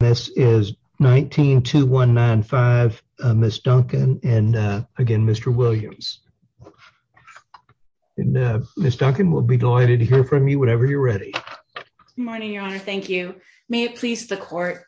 this is 19 to 195 Miss Duncan and again Mr. Williams and Miss Duncan will be delighted to hear from you whenever you're ready. Good morning, your honor. Thank you. May it please the court.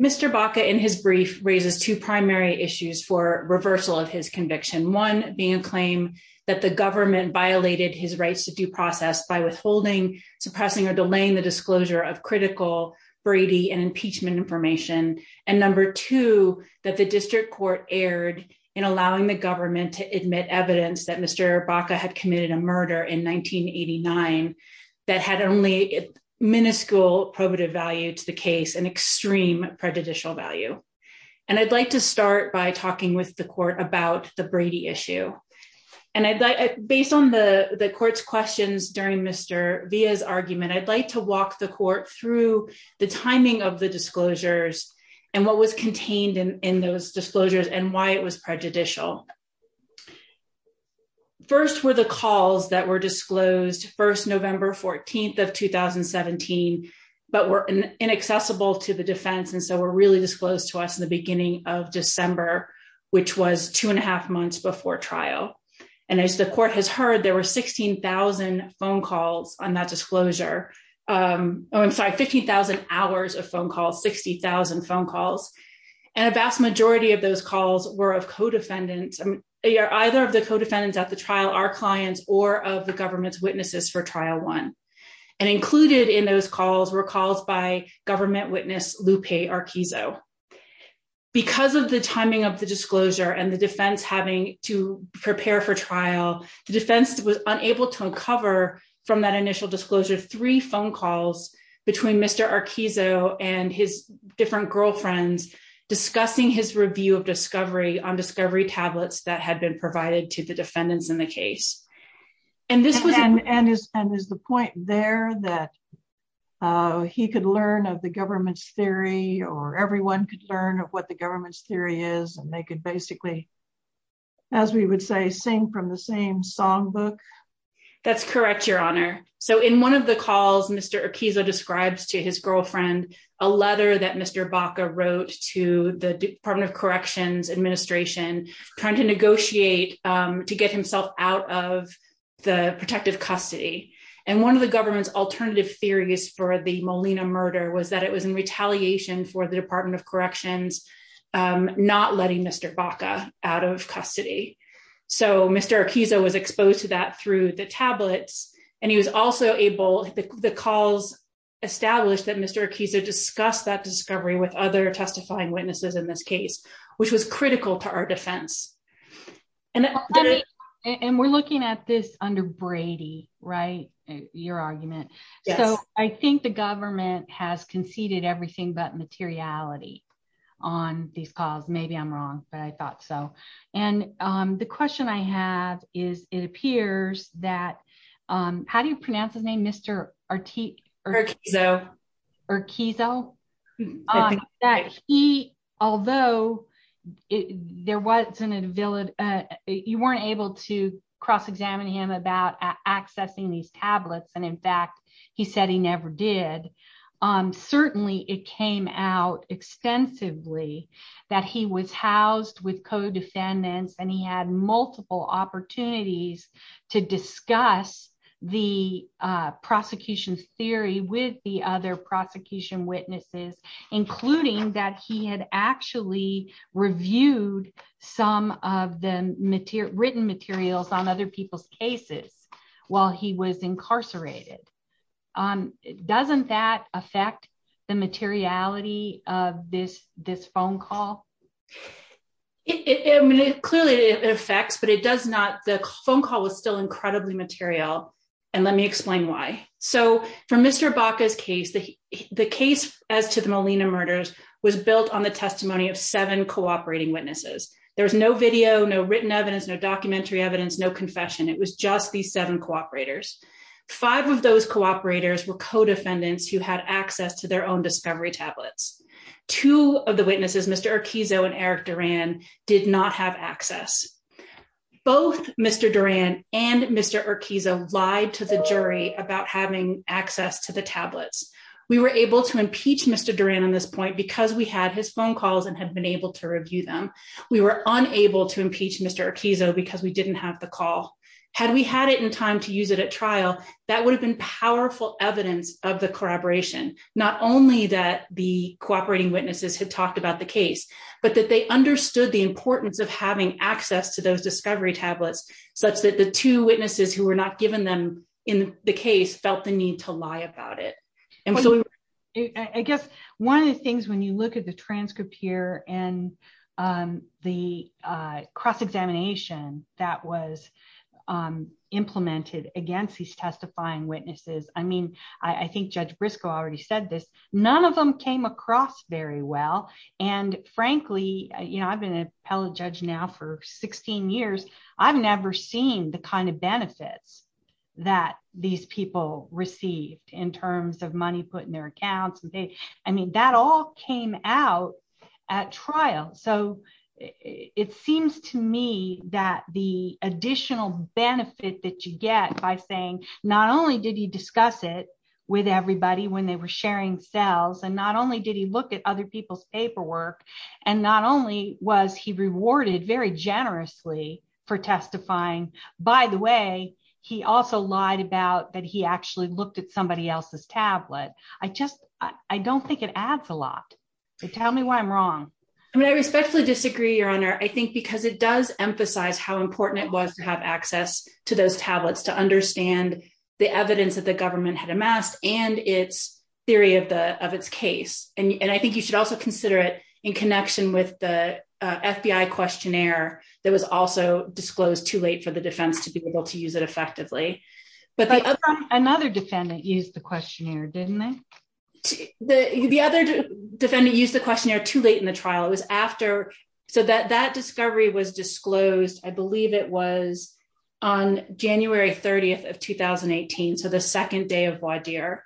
Mr Baca in his brief raises two primary issues for reversal of his conviction, one being a claim that the government violated his rights to due process by withholding, suppressing or delaying the disclosure of critical Brady and impeachment information. And number two, that the district court erred in allowing the government to admit evidence that Mr. Baca had committed a murder in 1989 that had only minuscule probative value to the case and extreme prejudicial value. And I'd like to start by talking with the court about the Brady issue. And I'd like based on the the court's questions during Mr via his argument, I'd like to walk the court through the timing of the disclosures and what was contained in those disclosures and why it was prejudicial. First were the calls that were disclosed first November 14 of 2017, but were inaccessible to the defense. And so we're really disclosed to us in the beginning of December, which was two and a half months before trial. And as the disclosure, there were 15,000 phone calls on that disclosure. Oh, I'm sorry, 15,000 hours of phone calls 60,000 phone calls. And a vast majority of those calls were of codefendants, either of the codefendants at the trial, our clients or of the government's witnesses for trial one. And included in those calls were calls by government witness Lupe Arquizo. Because of the timing of the disclosure and the defense having to prepare for trial, the defense was unable to uncover from that initial disclosure, three phone calls between Mr. Arquizo and his different girlfriends discussing his review of discovery on discovery tablets that had been provided to the defendants in the case. And this was and is and is the point there that he could learn of the government's theory or everyone could learn of what the government's theory is. And they could basically, as we would say, sing from the same songbook. That's correct, Your Honor. So in one of the calls, Mr. Arquizo describes to his girlfriend, a letter that Mr. Baca wrote to the Department of Corrections Administration, trying to negotiate to get himself out of the protective custody. And one of the government's alternative theories for the Molina murder was that it was in retaliation for the Department of Corrections, not letting Mr. Baca out of custody. So Mr. Arquizo was exposed to that through the tablets. And he was also able, the calls established that Mr. Arquizo discussed that discovery with other testifying witnesses in this case, which was critical to our defense. And we're looking at this under Brady, right? Your argument. So I think the government has conceded everything but materiality on these calls. Maybe I'm wrong, but I thought so. And the question I have is, it appears that, how do you pronounce his name, Mr. Arquizo? Arquizo. Arquizo. That he, although there wasn't a village, you weren't able to cross examine him about accessing these tablets. And in fact, he said he never did. Certainly, it came out extensively that he was housed with co-defendants, and he had multiple opportunities to discuss the prosecution's theory with the other prosecution witnesses, including that he had actually reviewed some of the written materials on other people's cases while he was incarcerated. Doesn't that affect the materiality of this phone call? It clearly affects, but it does not, the phone call was still incredibly material. And let me explain why. So for Mr. Baca's case, the case as to the Molina murders was built on the testimony of seven cooperating witnesses. There was no video, no written evidence, no documentary evidence, no confession. It was just these seven cooperators. Five of those cooperators were co-defendants who had access to their own discovery tablets. Two of the witnesses, Mr. Arquizo and Eric Duran, did not have access. Both Mr. Duran and Mr. Arquizo lied to the jury about having access to the tablets. We were able to impeach Mr. Duran on this point because we had his phone calls and had been able to review them. We were unable to impeach Mr. Arquizo because we didn't have the call. Had we had it in time to use it at trial, that would have been powerful evidence of the corroboration. Not only that the cooperating witnesses had talked about the case, but that they understood the importance of having access to those discovery tablets such that the two witnesses who were not given them in the case felt the need to lie about it. And so I guess one of the things when you look at the transcript here and the cross examination that was implemented against these testifying witnesses, I mean, I think Judge Briscoe already said this, none of them came across very well. And frankly, you know, I've been an appellate judge now for 16 years, I've never seen the kind of benefits that these people received in terms of money put in their accounts. I mean, that all came out at trial. So it seems to me that the additional benefit that you get by saying not only did he discuss it with everybody when they were sharing cells, and not only did he look at other people's paperwork, and not only was he rewarded very generously for testifying, by the way, he also lied about that he actually looked at somebody else's tablet. I just I don't think it adds a lot. Tell me why I'm wrong. I mean, I respectfully disagree, Your Honor, I think because it does emphasize how important it was to have access to those tablets to understand the evidence that the government had amassed and its theory of the of its case. And I think you should also consider it in connection with the FBI questionnaire that was also disclosed too late for the defense to be able to use it effectively. But another defendant used the questionnaire, didn't they? The other defendant used the questionnaire too late in the trial, it was after so that that discovery was disclosed, I believe it was on January 30 of 2018. So the second day of voir dire.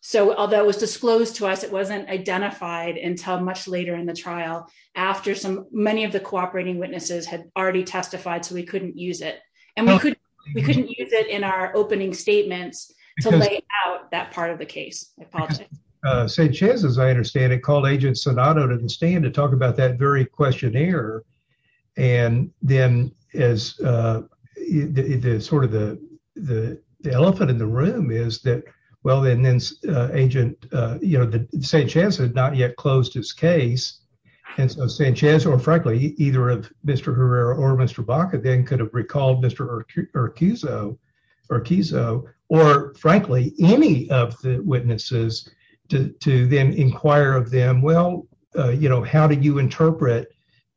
So although it was disclosed to us, it wasn't identified until much later in the trial, after some many of the cooperating witnesses had already testified, so we couldn't use it. And we couldn't, we couldn't use it in our opening statements to lay out that part of the case. Sanchez, as I understand it, called agent Sonata didn't stand to talk about that very questionnaire. And then as the sort of the, the elephant in the room is that, well, then then agent, you know, the same chance had not yet closed his case. And so Sanchez or frankly, either of Mr. Herrera or Mr. Baca then could have recalled Mr. Urquizo, Urquizo, or frankly, any of the witnesses to then inquire of them. Well, you know, how do you interpret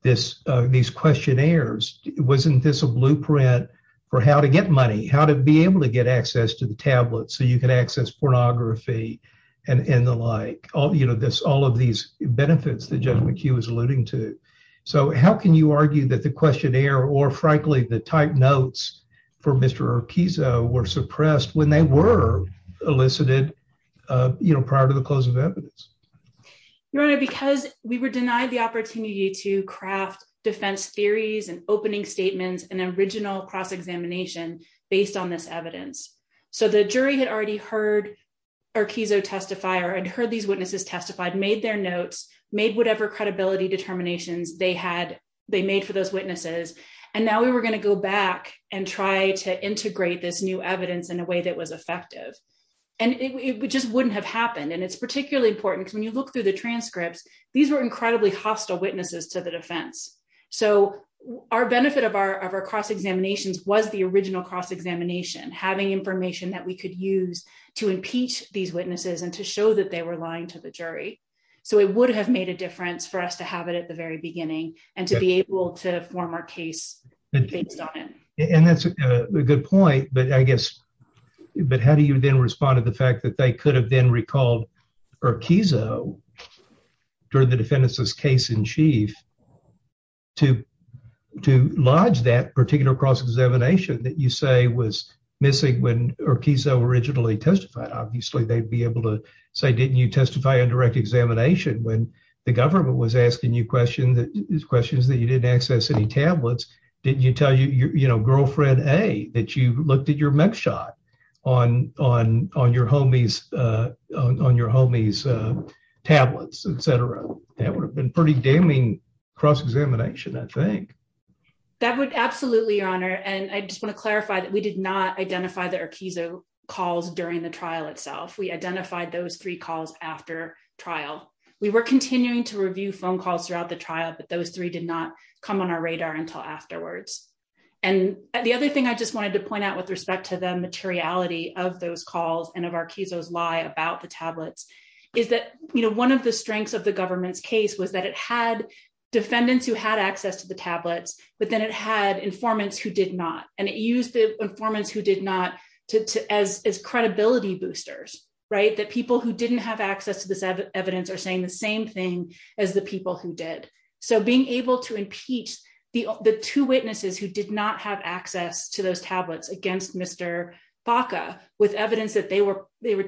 this, these questionnaires? Wasn't this a blueprint for how to get money, how to be able to get access to the tablet so you can access pornography and the like all, you know, this, all of these benefits that gentleman Q is alluding to. So how can you argue that the questionnaire or frankly, the type notes for Mr. Urquizo were suppressed when they were elicited, uh, you know, prior to the close of evidence? Your honor, because we were denied the opportunity to craft defense theories and opening statements and original cross examination based on this so the jury had already heard Urquizo testify or I'd heard these witnesses testified, made their notes, made whatever credibility determinations they had, they made for those witnesses. And now we were going to go back and try to integrate this new evidence in a way that was effective and it just wouldn't have happened. And it's particularly important because when you look through the transcripts, these were incredibly hostile witnesses to the defense. So our benefit of our, of our cross examinations was the original cross examination, having information that we could use to impeach these witnesses and to show that they were lying to the jury. So it would have made a difference for us to have it at the very beginning and to be able to form our case based on it. And that's a good point. But I guess, but how do you then respond to the fact that they could have been recalled Urquizo during the defendant's case in to, to lodge that particular cross examination that you say was missing when Urquizo originally testified? Obviously, they'd be able to say, didn't you testify on direct examination when the government was asking you questions that these questions that you didn't access any tablets? Didn't you tell you, you know, girlfriend a that you looked at your mech shot on, on, on your homies, uh, on your homies, uh, tablets, etcetera. That would have been pretty damning cross examination. I think that would absolutely your honor. And I just want to clarify that we did not identify the Urquizo calls during the trial itself. We identified those three calls after trial. We were continuing to review phone calls throughout the trial, but those three did not come on our radar until afterwards. And the other thing I just wanted to point out with respect to the materiality of those calls and of Urquizo's lie about the tablets is that, you know, one of the strengths of the government's case was that it had defendants who had access to the tablets, but then it had informants who did not. And it used the informants who did not to, to, as, as credibility boosters, right? That people who didn't have access to this evidence are saying the same thing as the people who did. So being able to impeach the, the two witnesses who did not have access to those tablets against Mr. Baca with evidence that they were, they were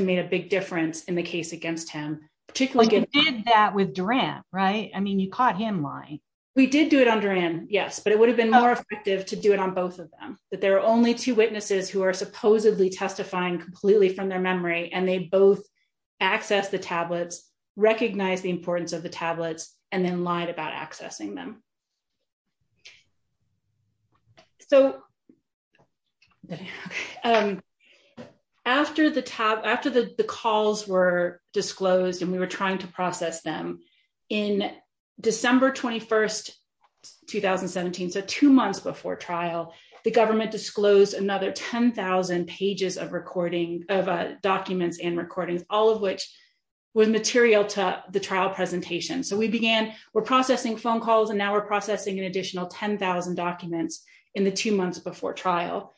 made a big difference in the case against him, particularly that with Duran, right? I mean, you caught him lying. We did do it on Duran. Yes, but it would have been more effective to do it on both of them, that there are only two witnesses who are supposedly testifying completely from their memory and they both access the tablets, recognize the importance of the tablets and then lied about accessing them. So after the top, after the calls were disclosed and we were trying to process them in December 21st, 2017, so two months before trial, the government disclosed another 10,000 pages of recording of documents and recordings, all of which was material to the trial presentation. So we began, we're processing phone calls and now we're processing an additional 10,000 documents in the two months before trial.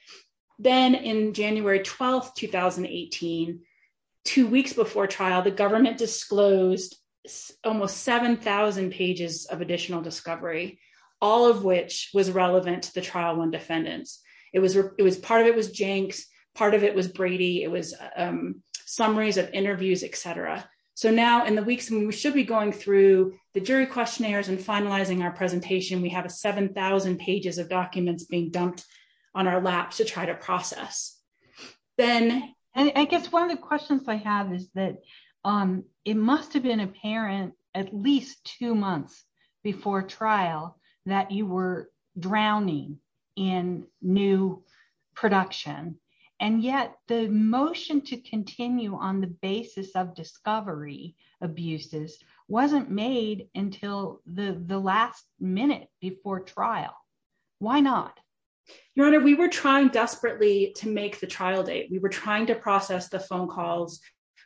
Then in January 12th, 2018, two weeks before trial, the government disclosed almost 7,000 pages of additional discovery, all of which was relevant to the trial on defendants. It was, it was part of it was Jenks, part of it was Brady. It was summaries of interviews, et cetera. So now in the weeks when we should be going through the jury questionnaires and finalizing our presentation, we have a 7,000 pages of documents being dumped on our laps to try to process. Then, I guess one of the questions I have is that it must have been apparent at least two months before trial that you were drowning in new production. And yet the motion to basis of discovery abuses wasn't made until the last minute before trial. Why not? Your Honor, we were trying desperately to make the trial date. We were trying to process the phone calls.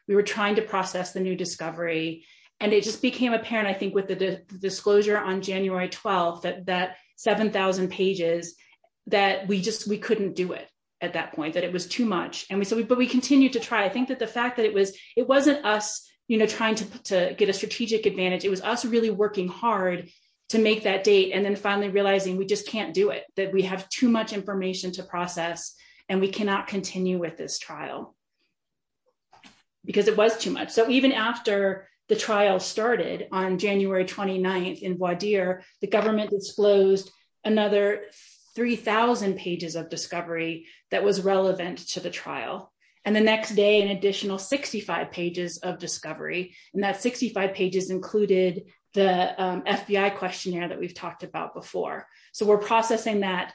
We were trying to process the new discovery. And it just became apparent, I think, with the disclosure on January 12th, that 7,000 pages, that we just we couldn't do it at that point, that it was too much. And we we continued to try. I think that the fact that it was, it wasn't us, you know, trying to get a strategic advantage. It was us really working hard to make that date. And then finally realizing we just can't do it, that we have too much information to process. And we cannot continue with this trial. Because it was too much. So even after the trial started on January 29, in Wadir, the government disclosed another 3,000 pages of discovery that was relevant to the trial. And the next day, an additional 65 pages of discovery. And that 65 pages included the FBI questionnaire that we've talked about before. So we're processing that,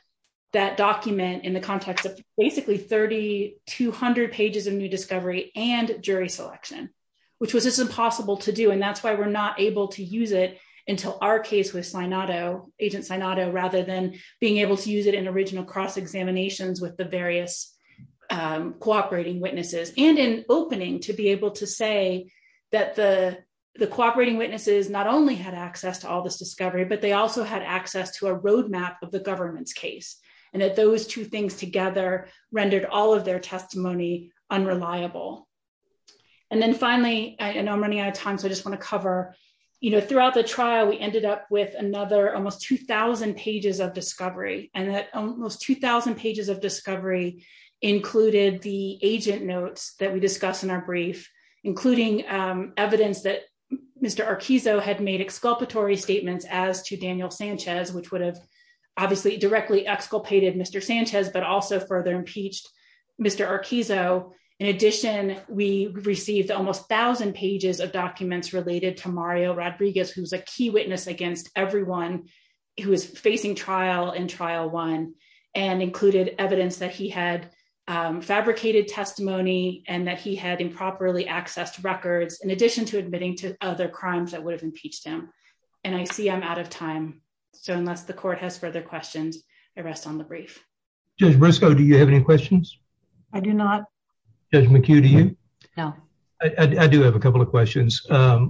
that document in the context of basically 3200 pages of new discovery and jury selection, which was just impossible to do. And that's why we're not able to use it until our case with Sinato, Agent Sinato, rather than being able to use it in original cross examinations with the various cooperating witnesses and in opening to be able to say that the the cooperating witnesses not only had access to all this discovery, but they also had access to a roadmap of the government's case. And that those two things together rendered all of their testimony unreliable. And then finally, I know I'm running out of time. So I just want to cover, you know, throughout the trial, we ended up with another almost 2000 pages of discovery. And that almost 2000 pages of discovery included the agent notes that we discussed in our brief, including evidence that Mr. Arquizo had made exculpatory statements as to Daniel Sanchez, which would have obviously directly exculpated Mr. Sanchez, but also further impeached Mr. Arquizo. In addition, we received almost 1000 pages of documents related to Mario Rodriguez, who's a key witness against everyone who is facing trial in trial one and included evidence that he had fabricated testimony and that he had improperly accessed records in addition to admitting to other crimes that would have impeached him. And I see I'm out of time. So unless the court has further questions, I rest on the brief. Judge Briscoe, do you have any questions? I do not. Judge McHugh, do you? No, I do have a couple of questions.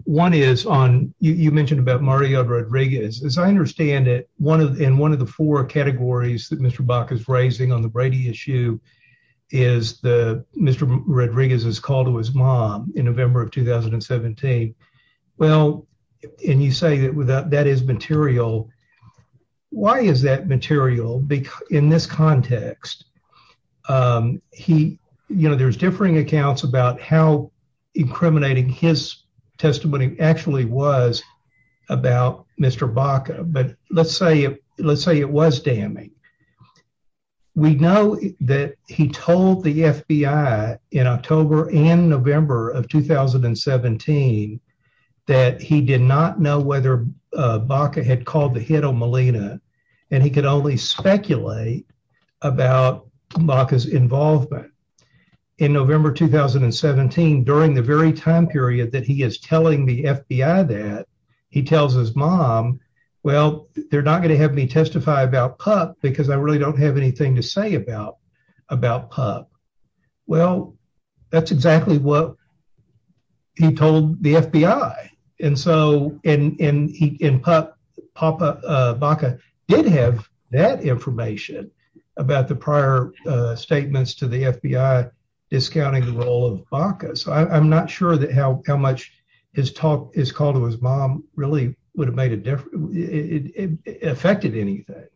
One is on you mentioned about Mario Rodriguez. As I understand it, one of in one of the four categories that Mr Bach is raising on the Brady issue is the Mr Rodriguez's call to his mom in November of 2017. Well, and you say that without that is you know, there's differing accounts about how incriminating his testimony actually was about Mr Baca. But let's say, let's say it was damning. We know that he told the FBI in October and November of 2017 that he did not know whether Baca had called the hit on Molina, and he could only speculate about Baca's involvement in November 2017. During the very time period that he is telling the FBI that he tells his mom, Well, they're not gonna have me testify about pup because I really don't have anything to say about about pup. Well, that's exactly what he told the FBI. And so in in in pup Papa Baca did have that information about the prior statements to the FBI discounting the role of Baca. So I'm not sure that how how much his talk is called to his mom really would have made a different. It affected anything.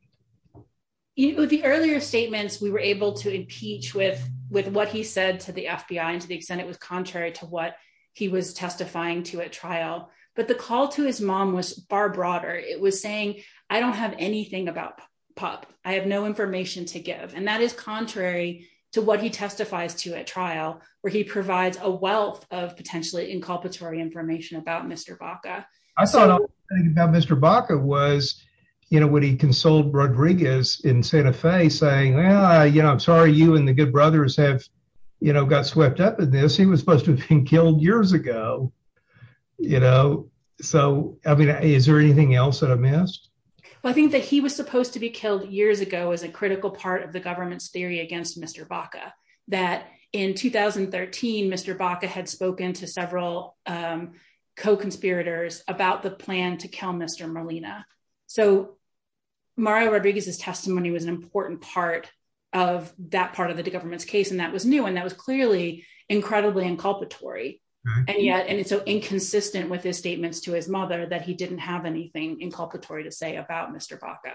You know, the earlier statements we were able to impeach with with what he said to the FBI and to the extent it was contrary to what he was testifying to a trial. But the call to his mom was far broader. It was saying I don't have anything about pup. I have no information to give, and that is contrary to what he testifies to a trial where he provides a wealth of potentially inculpatory information about Mr Baca. I thought about Mr Baca was, you know, when he consoled Rodriguez in Santa Fe, saying, Well, you know, I'm sorry you and the good brothers have, you know, got swept up in this. He was supposed to have been killed years ago, you know. So I mean, is there anything else that I missed? I think that he was supposed to be killed years ago is a critical part of the government's theory against Mr Baca that in 2013 Mr Baca had spoken to several co conspirators about the plan to kill Mr Molina. So Mario Rodriguez's testimony was an important part of that part of the government's case, and that was new, and that was clearly incredibly inculpatory. And yet, and it's so inconsistent with his statements to his mother that he didn't have anything inculpatory to say about Mr Baca.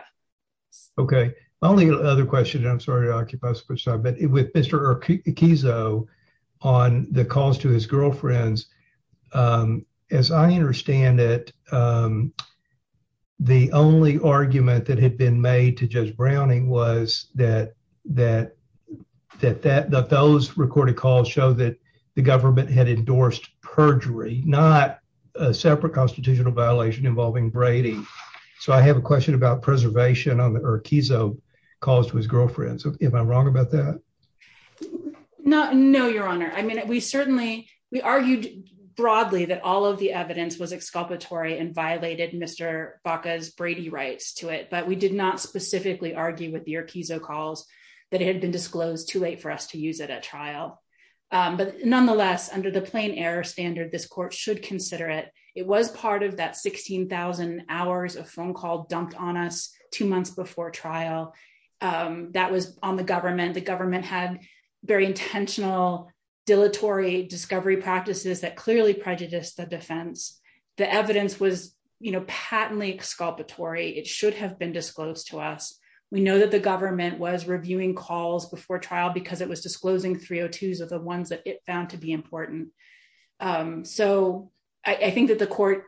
Okay, only other question. I'm sorry to occupy, but with Mr Kizzo on the calls to his girlfriends. Um, as I understand it, um, the only argument that had been made to Judge Browning was that that that that that those recorded calls show that the government had endorsed perjury, not a separate constitutional violation involving Brady. So I have a question about preservation on the keys. Oh, calls to his girlfriend. So if I'm wrong about that, no, no, Your Honor. I mean, we certainly we argued broadly that all of the evidence was exculpatory and violated Mr Baca's Brady rights to it. But we did not specifically argue with your keys. Oh, calls that had been disclosed too late for us to use it at trial. But nonetheless, under the plain air standard, this court should consider it. It was part of that 16,000 hours of phone call dumped on us two months before trial. Um, that was on the government. The government had very intentional, dilatory discovery practices that clearly prejudiced the defense. The evidence was, you know, patently exculpatory. It should have been disclosed to us. We know that the government was reviewing calls before trial because it was disclosing 302s of the ones that it found to be important. Um, so I think that the court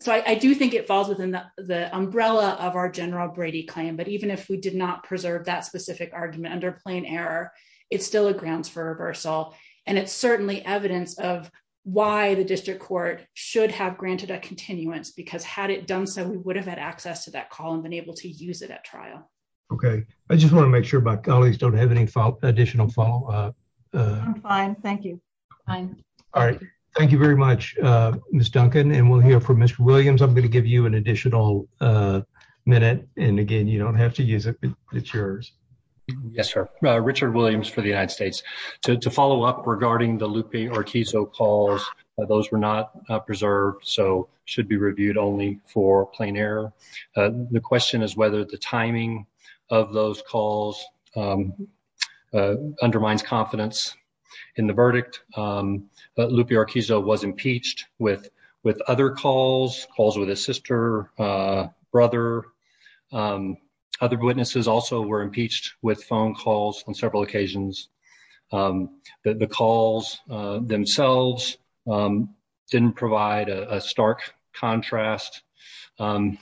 so I do think it falls within the umbrella of our General Brady claim. But even if we did not preserve that specific argument under plain error, it's still a grounds for reversal. And it's certainly evidence of why the district court should have granted a continuance. Because had it done so, we would have had access to that call and been able to use it at trial. Okay, I just want to make sure my colleagues don't have any additional follow up. Uh, I'm fine. Thank you. Fine. All right. Thank you very much. Uh, Miss Duncan and we'll hear from Mr Williams. I'm going to give you an additional, uh, minute. And again, you don't have to use it. It's yours. Yes, sir. Richard Williams for the United States to follow up regarding the Lupe Orkizzo calls. Those were not preserved, so should be reviewed only for plain error. Uh, the question is whether the timing of those calls, um, uh, undermines confidence in the verdict. Um, Lupe Orkizzo was impeached with with other calls, calls with his sister, uh, brother. Um, other witnesses also were impeached with several occasions. Um, the calls themselves, um, didn't provide a stark contrast. Um,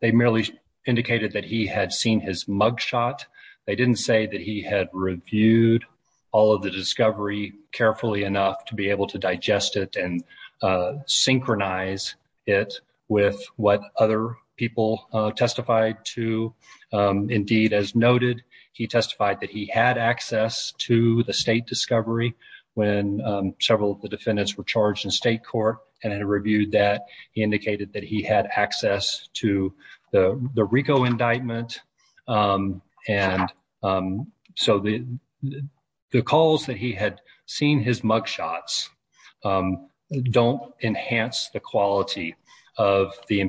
they merely indicated that he had seen his mugshot. They didn't say that he had reviewed all of the discovery carefully enough to be able to digest it and, uh, synchronize it with what other people testified to. Um, he testified that he had access to the state discovery when, um, several of the defendants were charged in state court and had reviewed that he indicated that he had access to the, the Rico indictment. Um, and, um, so the, the calls that he had seen his mugshots, um, don't enhance the quality of the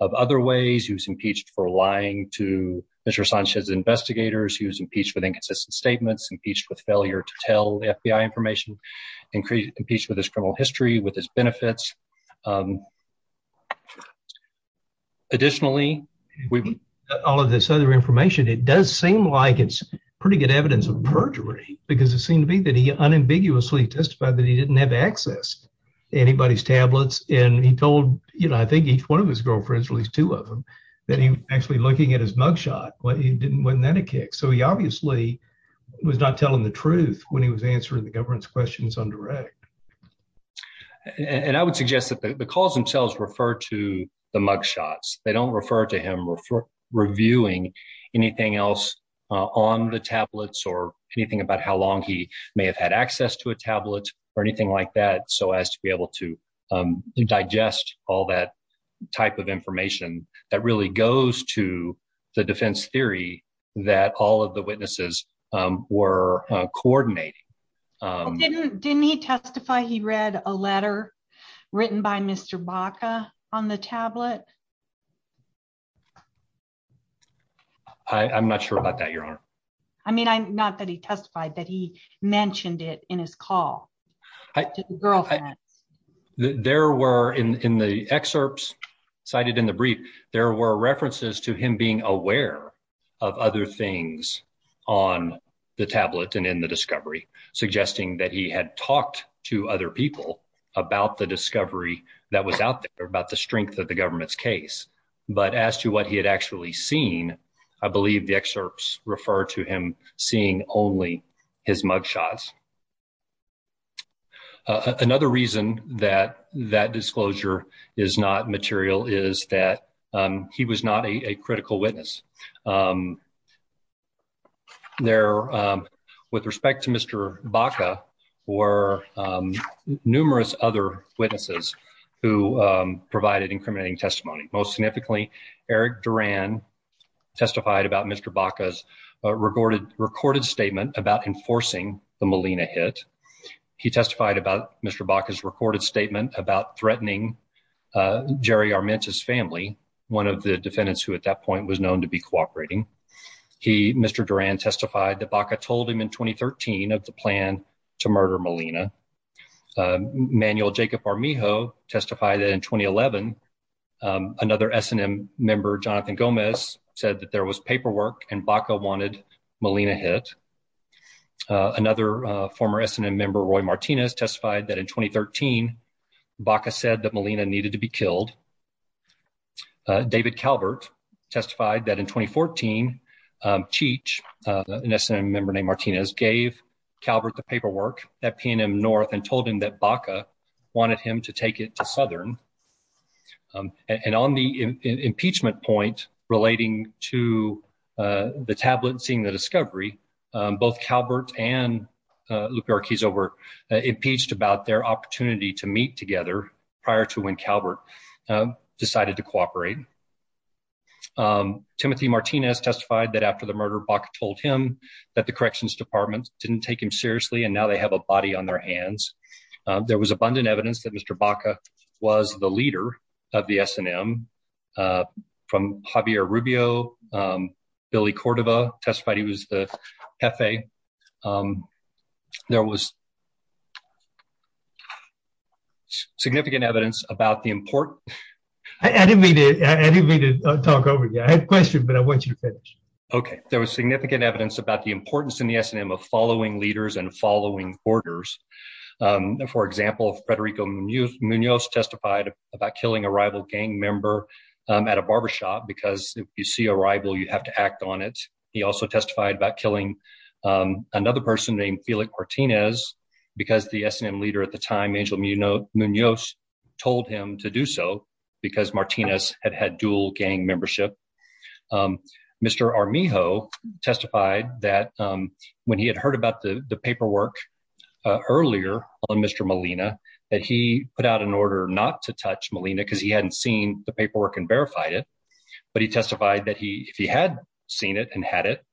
of other ways. He was impeached for lying to Mr Sanchez investigators. He was impeached with inconsistent statements, impeached with failure to tell the FBI information, increased impeached with his criminal history with his benefits. Um, additionally, we've got all of this other information. It does seem like it's pretty good evidence of perjury because it seemed to be that he unambiguously testified that he didn't have access to anybody's tablets. And he told, you know, I think each one of his girlfriends released two of them that he actually looking at his mugshot, but he didn't win that a kick. So he obviously was not telling the truth when he was answering the government's questions on direct. And I would suggest that the calls themselves refer to the mugshots. They don't refer to him reviewing anything else on the tablets or anything about how long he may have had access to a tablet or anything like that. So as to be able to, um, digest all that type of information that really goes to the defense theory that all of the witnesses were coordinating. Um, didn't he testify? He read a letter written by Mr Baca on the tablet. I'm not sure about that, Your Honor. I mean, I'm not that he testified that he there were in the excerpts cited in the brief, there were references to him being aware of other things on the tablet and in the discovery, suggesting that he had talked to other people about the discovery that was out there about the strength of the government's case. But as to what he had actually seen, I believe the excerpts refer to him seeing only his mugshots. Uh, another reason that that disclosure is not material is that, um, he was not a critical witness. Um, they're, um, with respect to Mr Baca or, um, numerous other witnesses who, um, provided incriminating testimony. Most significantly, Eric Duran testified about Mr Baca's recorded recorded statement about enforcing the Molina hit. He testified about Mr Baca's recorded statement about threatening, uh, Jerry Armenta's family, one of the defendants who at that point was known to be cooperating. He, Mr Duran testified that Baca told him in 2013 of the plan to murder Molina. Um, Manuel Jacob Armijo testified that in 2011, um, another SNM member, Jonathan Gomez, said that there was paperwork and Baca wanted Molina hit. Uh, another former SNM member, Roy Martinez, testified that in 2013 Baca said that Molina needed to be killed. Uh, David Calvert testified that in 2014, um, Cheech, uh, an SNM member named Martinez gave Calvert the paperwork at PNM North and told him that Baca wanted him to take it to Southern. Um, and on the impeachment point relating to, uh, the tablet and seeing the discovery, um, both Calvert and, uh, Lupe Arquizo were impeached about their opportunity to meet together prior to when Calvert, um, decided to cooperate. Um, Timothy Martinez testified that after the murder, Baca told him that the corrections department didn't take him seriously. And now they have a body on their hands. There was abundant evidence that Mr. Baca was the leader of the SNM, uh, from Javier Rubio, um, Billy Cordova testified he was the F. A. Um, there was significant evidence about the important. I didn't mean it. I didn't mean to talk over you. I had questions, but I want you to finish. Okay. There was significant evidence about the importance in the SNM of following leaders and following orders. Um, for example, Federico Munoz testified about killing a rival gang member, um, at a barbershop, because if you see a rival, you have to act on it. He also testified about killing, um, another person named Felix Martinez because the SNM leader at the time, Angel Munoz told him to do so because Martinez had had dual gang membership. Um, Mr. Armijo testified that, um, when he had heard about the paperwork earlier on Mr. Molina, that he put out an order not to touch Molina because he hadn't seen the paperwork and verified it. But he testified that he, if he had seen it and had it,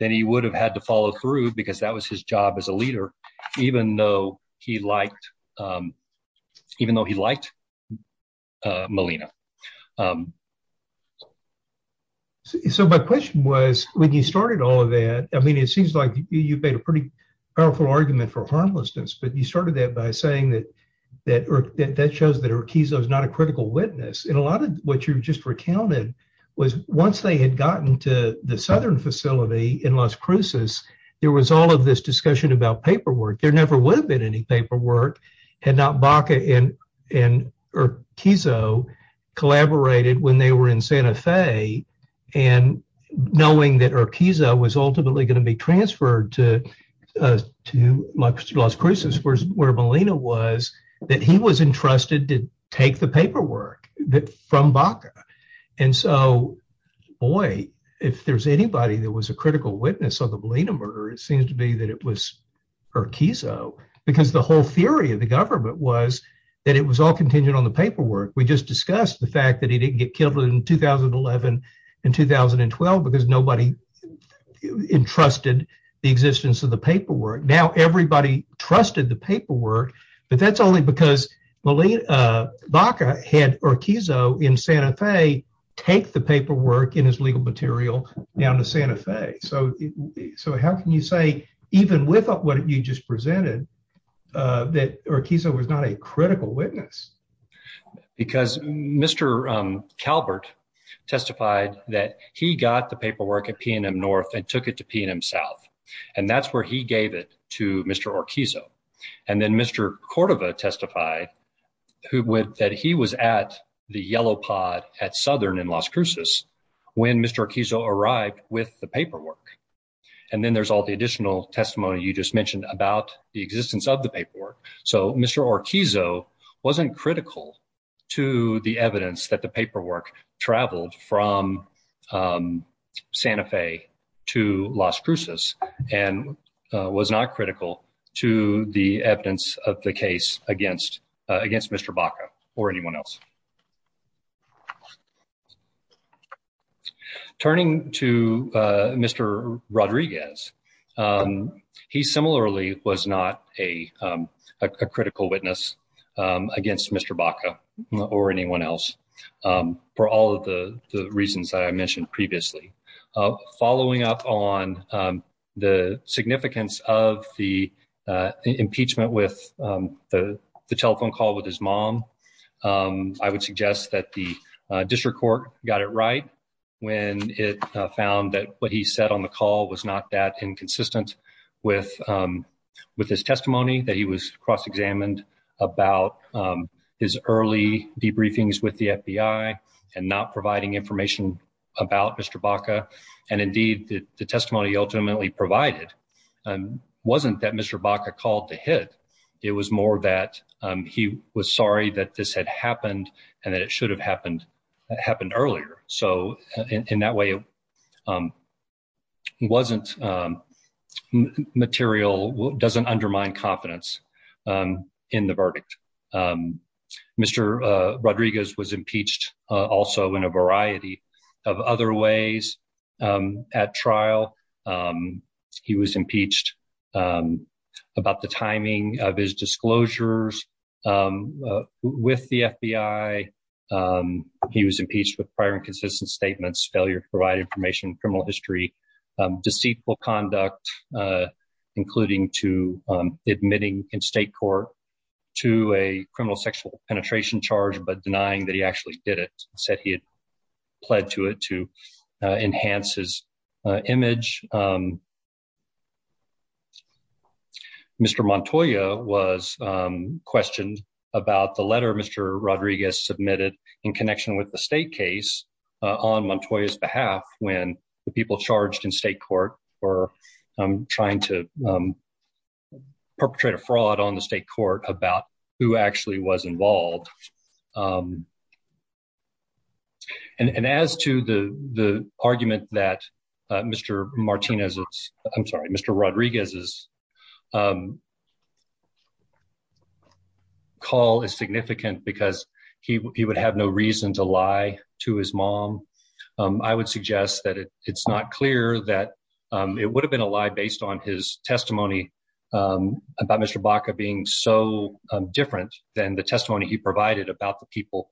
then he would have had to follow through because that was his job as a leader, even though he liked, um, even though he liked Molina. Um, so my question was, when you started all of that, I mean, it seems like you made a pretty powerful argument for harmlessness. But you started that by saying that that that that shows that her keys is not a critical witness. And a lot of what you just recounted was once they had gotten to the southern facility in Las Cruces, there was all of this discussion about paperwork. There never would have been any paperwork had not Baca and and Kizzo collaborated when they were in Santa Fe and knowing that her Kizzo was ultimately going to be transferred to, uh, to my lost cruces where Molina was that he was entrusted to take the paperwork that from Baca. And so, boy, if there's anybody that was a critical witness of the Molina murder, it seems to be that it was her Kizzo because the whole theory of the government was that it was all contingent on the paperwork. We just discussed the fact that he didn't get killed in 2011 and 2012 because nobody entrusted the existence of the paperwork. Now everybody trusted the paperwork. But that's only because Molina Baca had her Kizzo in Santa Fe. Take the paperwork in his legal material down to Santa Fe. So so how can you say even with up what you just presented, uh, that or Kizzo was not a critical witness because Mr Calvert testified that he got the paperwork at PNM North and took it to PNM South. And that's where he gave it to Mr Orkizzo. And then Mr Cordova testified who went that he was at the yellow pod at southern in Las Cruces when Mr Kizzo arrived with the paperwork. And then there's all the additional testimony you just mentioned about the existence of the paperwork. So Mr Orkizzo wasn't critical to the evidence that the paperwork traveled from, um, Santa Fe to Las Cruces and was not critical to the evidence of the case against against Mr Baca or anyone else. Turning to Mr Rodriguez, he similarly was not a critical witness against Mr Baca or anyone else. Um, for all of the reasons that I mentioned previously following up on the significance of the impeachment with the telephone call with his mom, um, I would suggest that the district court got it right when it found that what he said on the call was not that inconsistent with, um, with his testimony that he was cross examined about his early debriefings with the FBI and not providing information about Mr Baca. And indeed, the testimony ultimately provided wasn't that Mr Baca called to hit. It was more that, um, he was sorry that this had happened and that it should have happened, happened earlier. So in that way, um, wasn't, um, material doesn't undermine confidence, um, in the verdict. Um, Mr, uh, Rodriguez was impeached, uh, also in a variety of other ways. Um, at trial, um, he was disclosures, um, uh, with the FBI. Um, he was impeached with prior inconsistent statements, failure to provide information, criminal history, um, deceitful conduct, uh, including to, um, admitting in state court to a criminal sexual penetration charge, but denying that he actually did it said he had pled to it to enhance his image. Um, Mr. Montoya was, um, questioned about the letter. Mr. Rodriguez submitted in connection with the state case, uh, on Montoya's behalf, when the people charged in state court or, um, trying to, um, perpetrate a fraud on the state court about who actually was involved. Um, and, and as to the, the argument that, uh, Mr. Martinez, I'm sorry, Mr. Rodriguez's, um, call is significant because he would have no reason to lie to his mom, um, I would suggest that it's not clear that, um, it would have been a lie based on his testimony, um, about Mr. Baca being so different than the testimony he provided about the people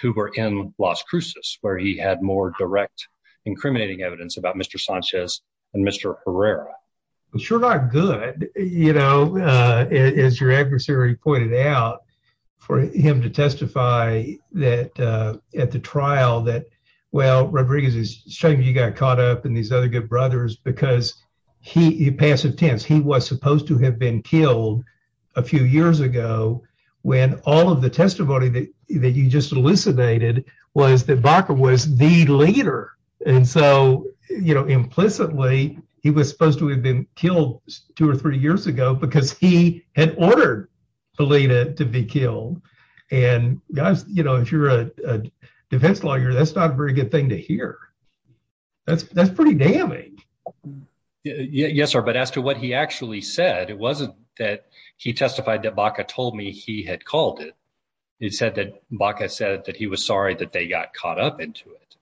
who were in Las Cruces, where he had more direct incriminating evidence about Mr Sanchez and Mr Herrera. Sure. Not good. You know, uh, is your adversary pointed out for him to testify that, uh, at the trial that well, Rodriguez is showing you got caught up in these other good brothers because he passive tense. He was supposed to have been killed a few years ago when all of the testimony that you just elucidated was that Baca was the leader. And so, you know, implicitly, he was supposed to have been killed two or three years ago because he had ordered belated to be killed. And guys, you know, if you're a defense lawyer, that's not a very good thing to hear. That's pretty damning. Yes, sir. But as to what he actually said, it wasn't that he testified that Baca told me he had called it. It said that Baca said that he was sorry that they got caught up into it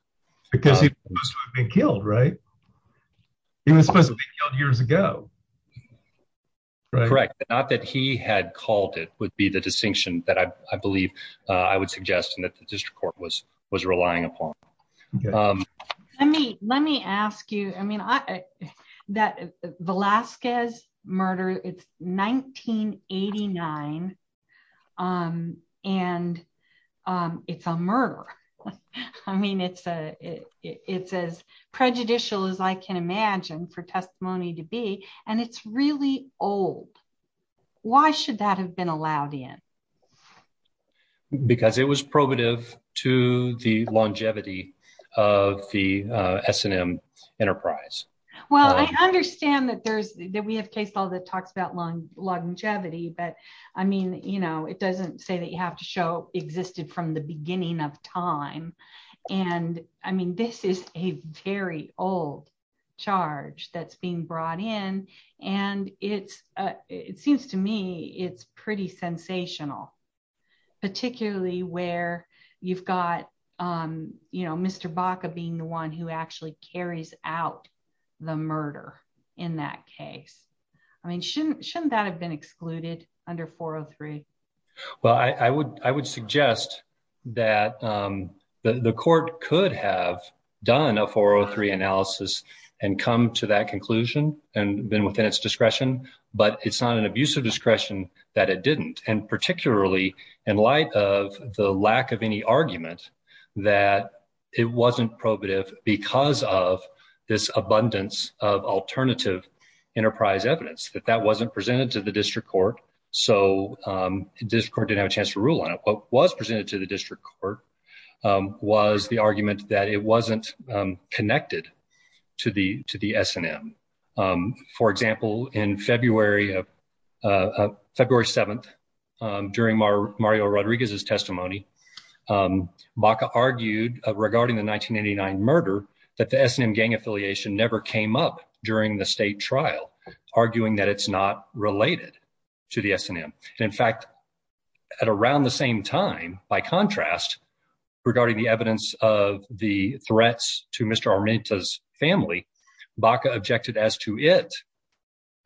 because he was supposed to be killed, right? He was supposed to be killed years ago. Correct. Not that he had called it would be the distinction that I believe I would suggest that the district court was was relying upon. Um, let me let me murder. It's 1989. Um, and it's a murder. I mean, it's a it's as prejudicial as I can imagine for testimony to be. And it's really old. Why should that have been allowed in? Because it was probative to the longevity of the S and that there's that we have case all that talks about long longevity. But I mean, you know, it doesn't say that you have to show existed from the beginning of time. And I mean, this is a very old charge that's being brought in. And it's, it seems to me it's pretty sensational, particularly where you've got, um, you know, Mr. Baca being the one who actually carries out the murder in that case. I mean, shouldn't shouldn't that have been excluded under 403? Well, I would, I would suggest that, um, the court could have done a 403 analysis and come to that conclusion and been within its discretion. But it's not an abuse of discretion that it didn't. And particularly in light of the lack of any argument that it wasn't probative because of this abundance of alternative enterprise evidence that that wasn't presented to the district court. So, um, this court didn't have a chance to rule on it, but was presented to the district court, um, was the argument that it wasn't connected to the, to the S and M. Um, for example, in February of, uh, February 7th, um, during Mario Rodriguez's testimony, um, Baca argued regarding the 1989 murder that the S and M gang affiliation never came up during the state trial, arguing that it's not related to the S and M. And in fact, at around the same time, by contrast, regarding the evidence of the threats to Mr. Armenta's family, Baca objected as to it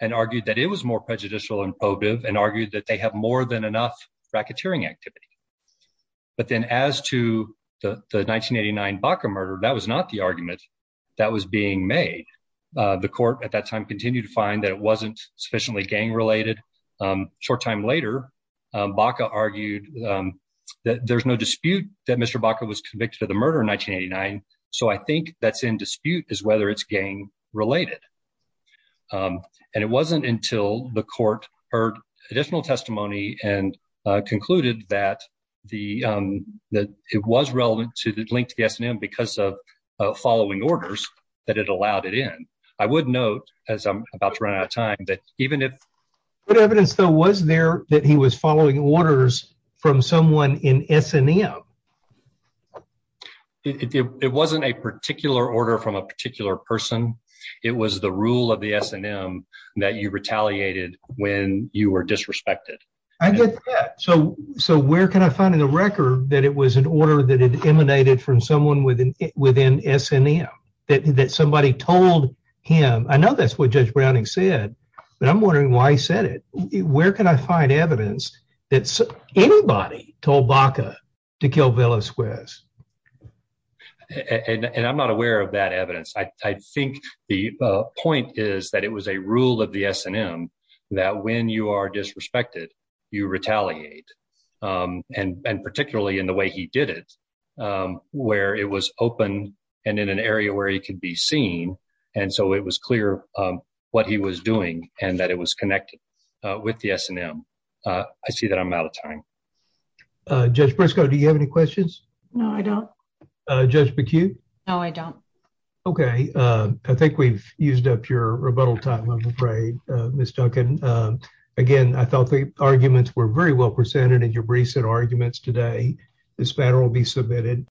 and argued that it was more prejudicial and probative and argued that they have more than enough racketeering activity. But then as to the 1989 Baca murder, that was not the argument that was being made. Uh, the court at that time continued to find that it wasn't sufficiently gang related. Um, short time later, um, Baca argued, um, that there's no dispute that Mr. Baca was convicted of the murder in 1989. So I think that's in dispute is whether it's gang related. Um, and it wasn't until the court heard additional testimony and concluded that the, um, that it was relevant to the link to the S and M because of following orders that it allowed it in. I would note as I'm about to run out of time that even if good evidence, though, was there that he was following orders from someone in S and M. It wasn't a particular order from a particular person. It was the rule of the S and M that you retaliated when you were disrespected. I get that. So, so where can I find in the record that it was an order that it emanated from someone within within S and M that somebody told him? I know that's what Judge Browning said, but I'm wondering why he said it. Where can I find evidence that anybody told Baca to kill Villasquez? And I'm not aware of that evidence. I think the point is that it was a rule of the S and M that when you are disrespected, you retaliate. Um, and particularly in the way he did it, um, where it was open and in an area where he could be seen. And so it was clear what he was doing and that it was connected with the S and M. Uh, I see that I'm out of time. Uh, Judge I don't. Uh, Judge McHugh. No, I don't. Okay. Uh, I think we've used up your rebuttal time. I'm afraid, uh, Miss Duncan. Um, again, I thought the arguments were very well presented in your recent arguments today. This matter will be submitted.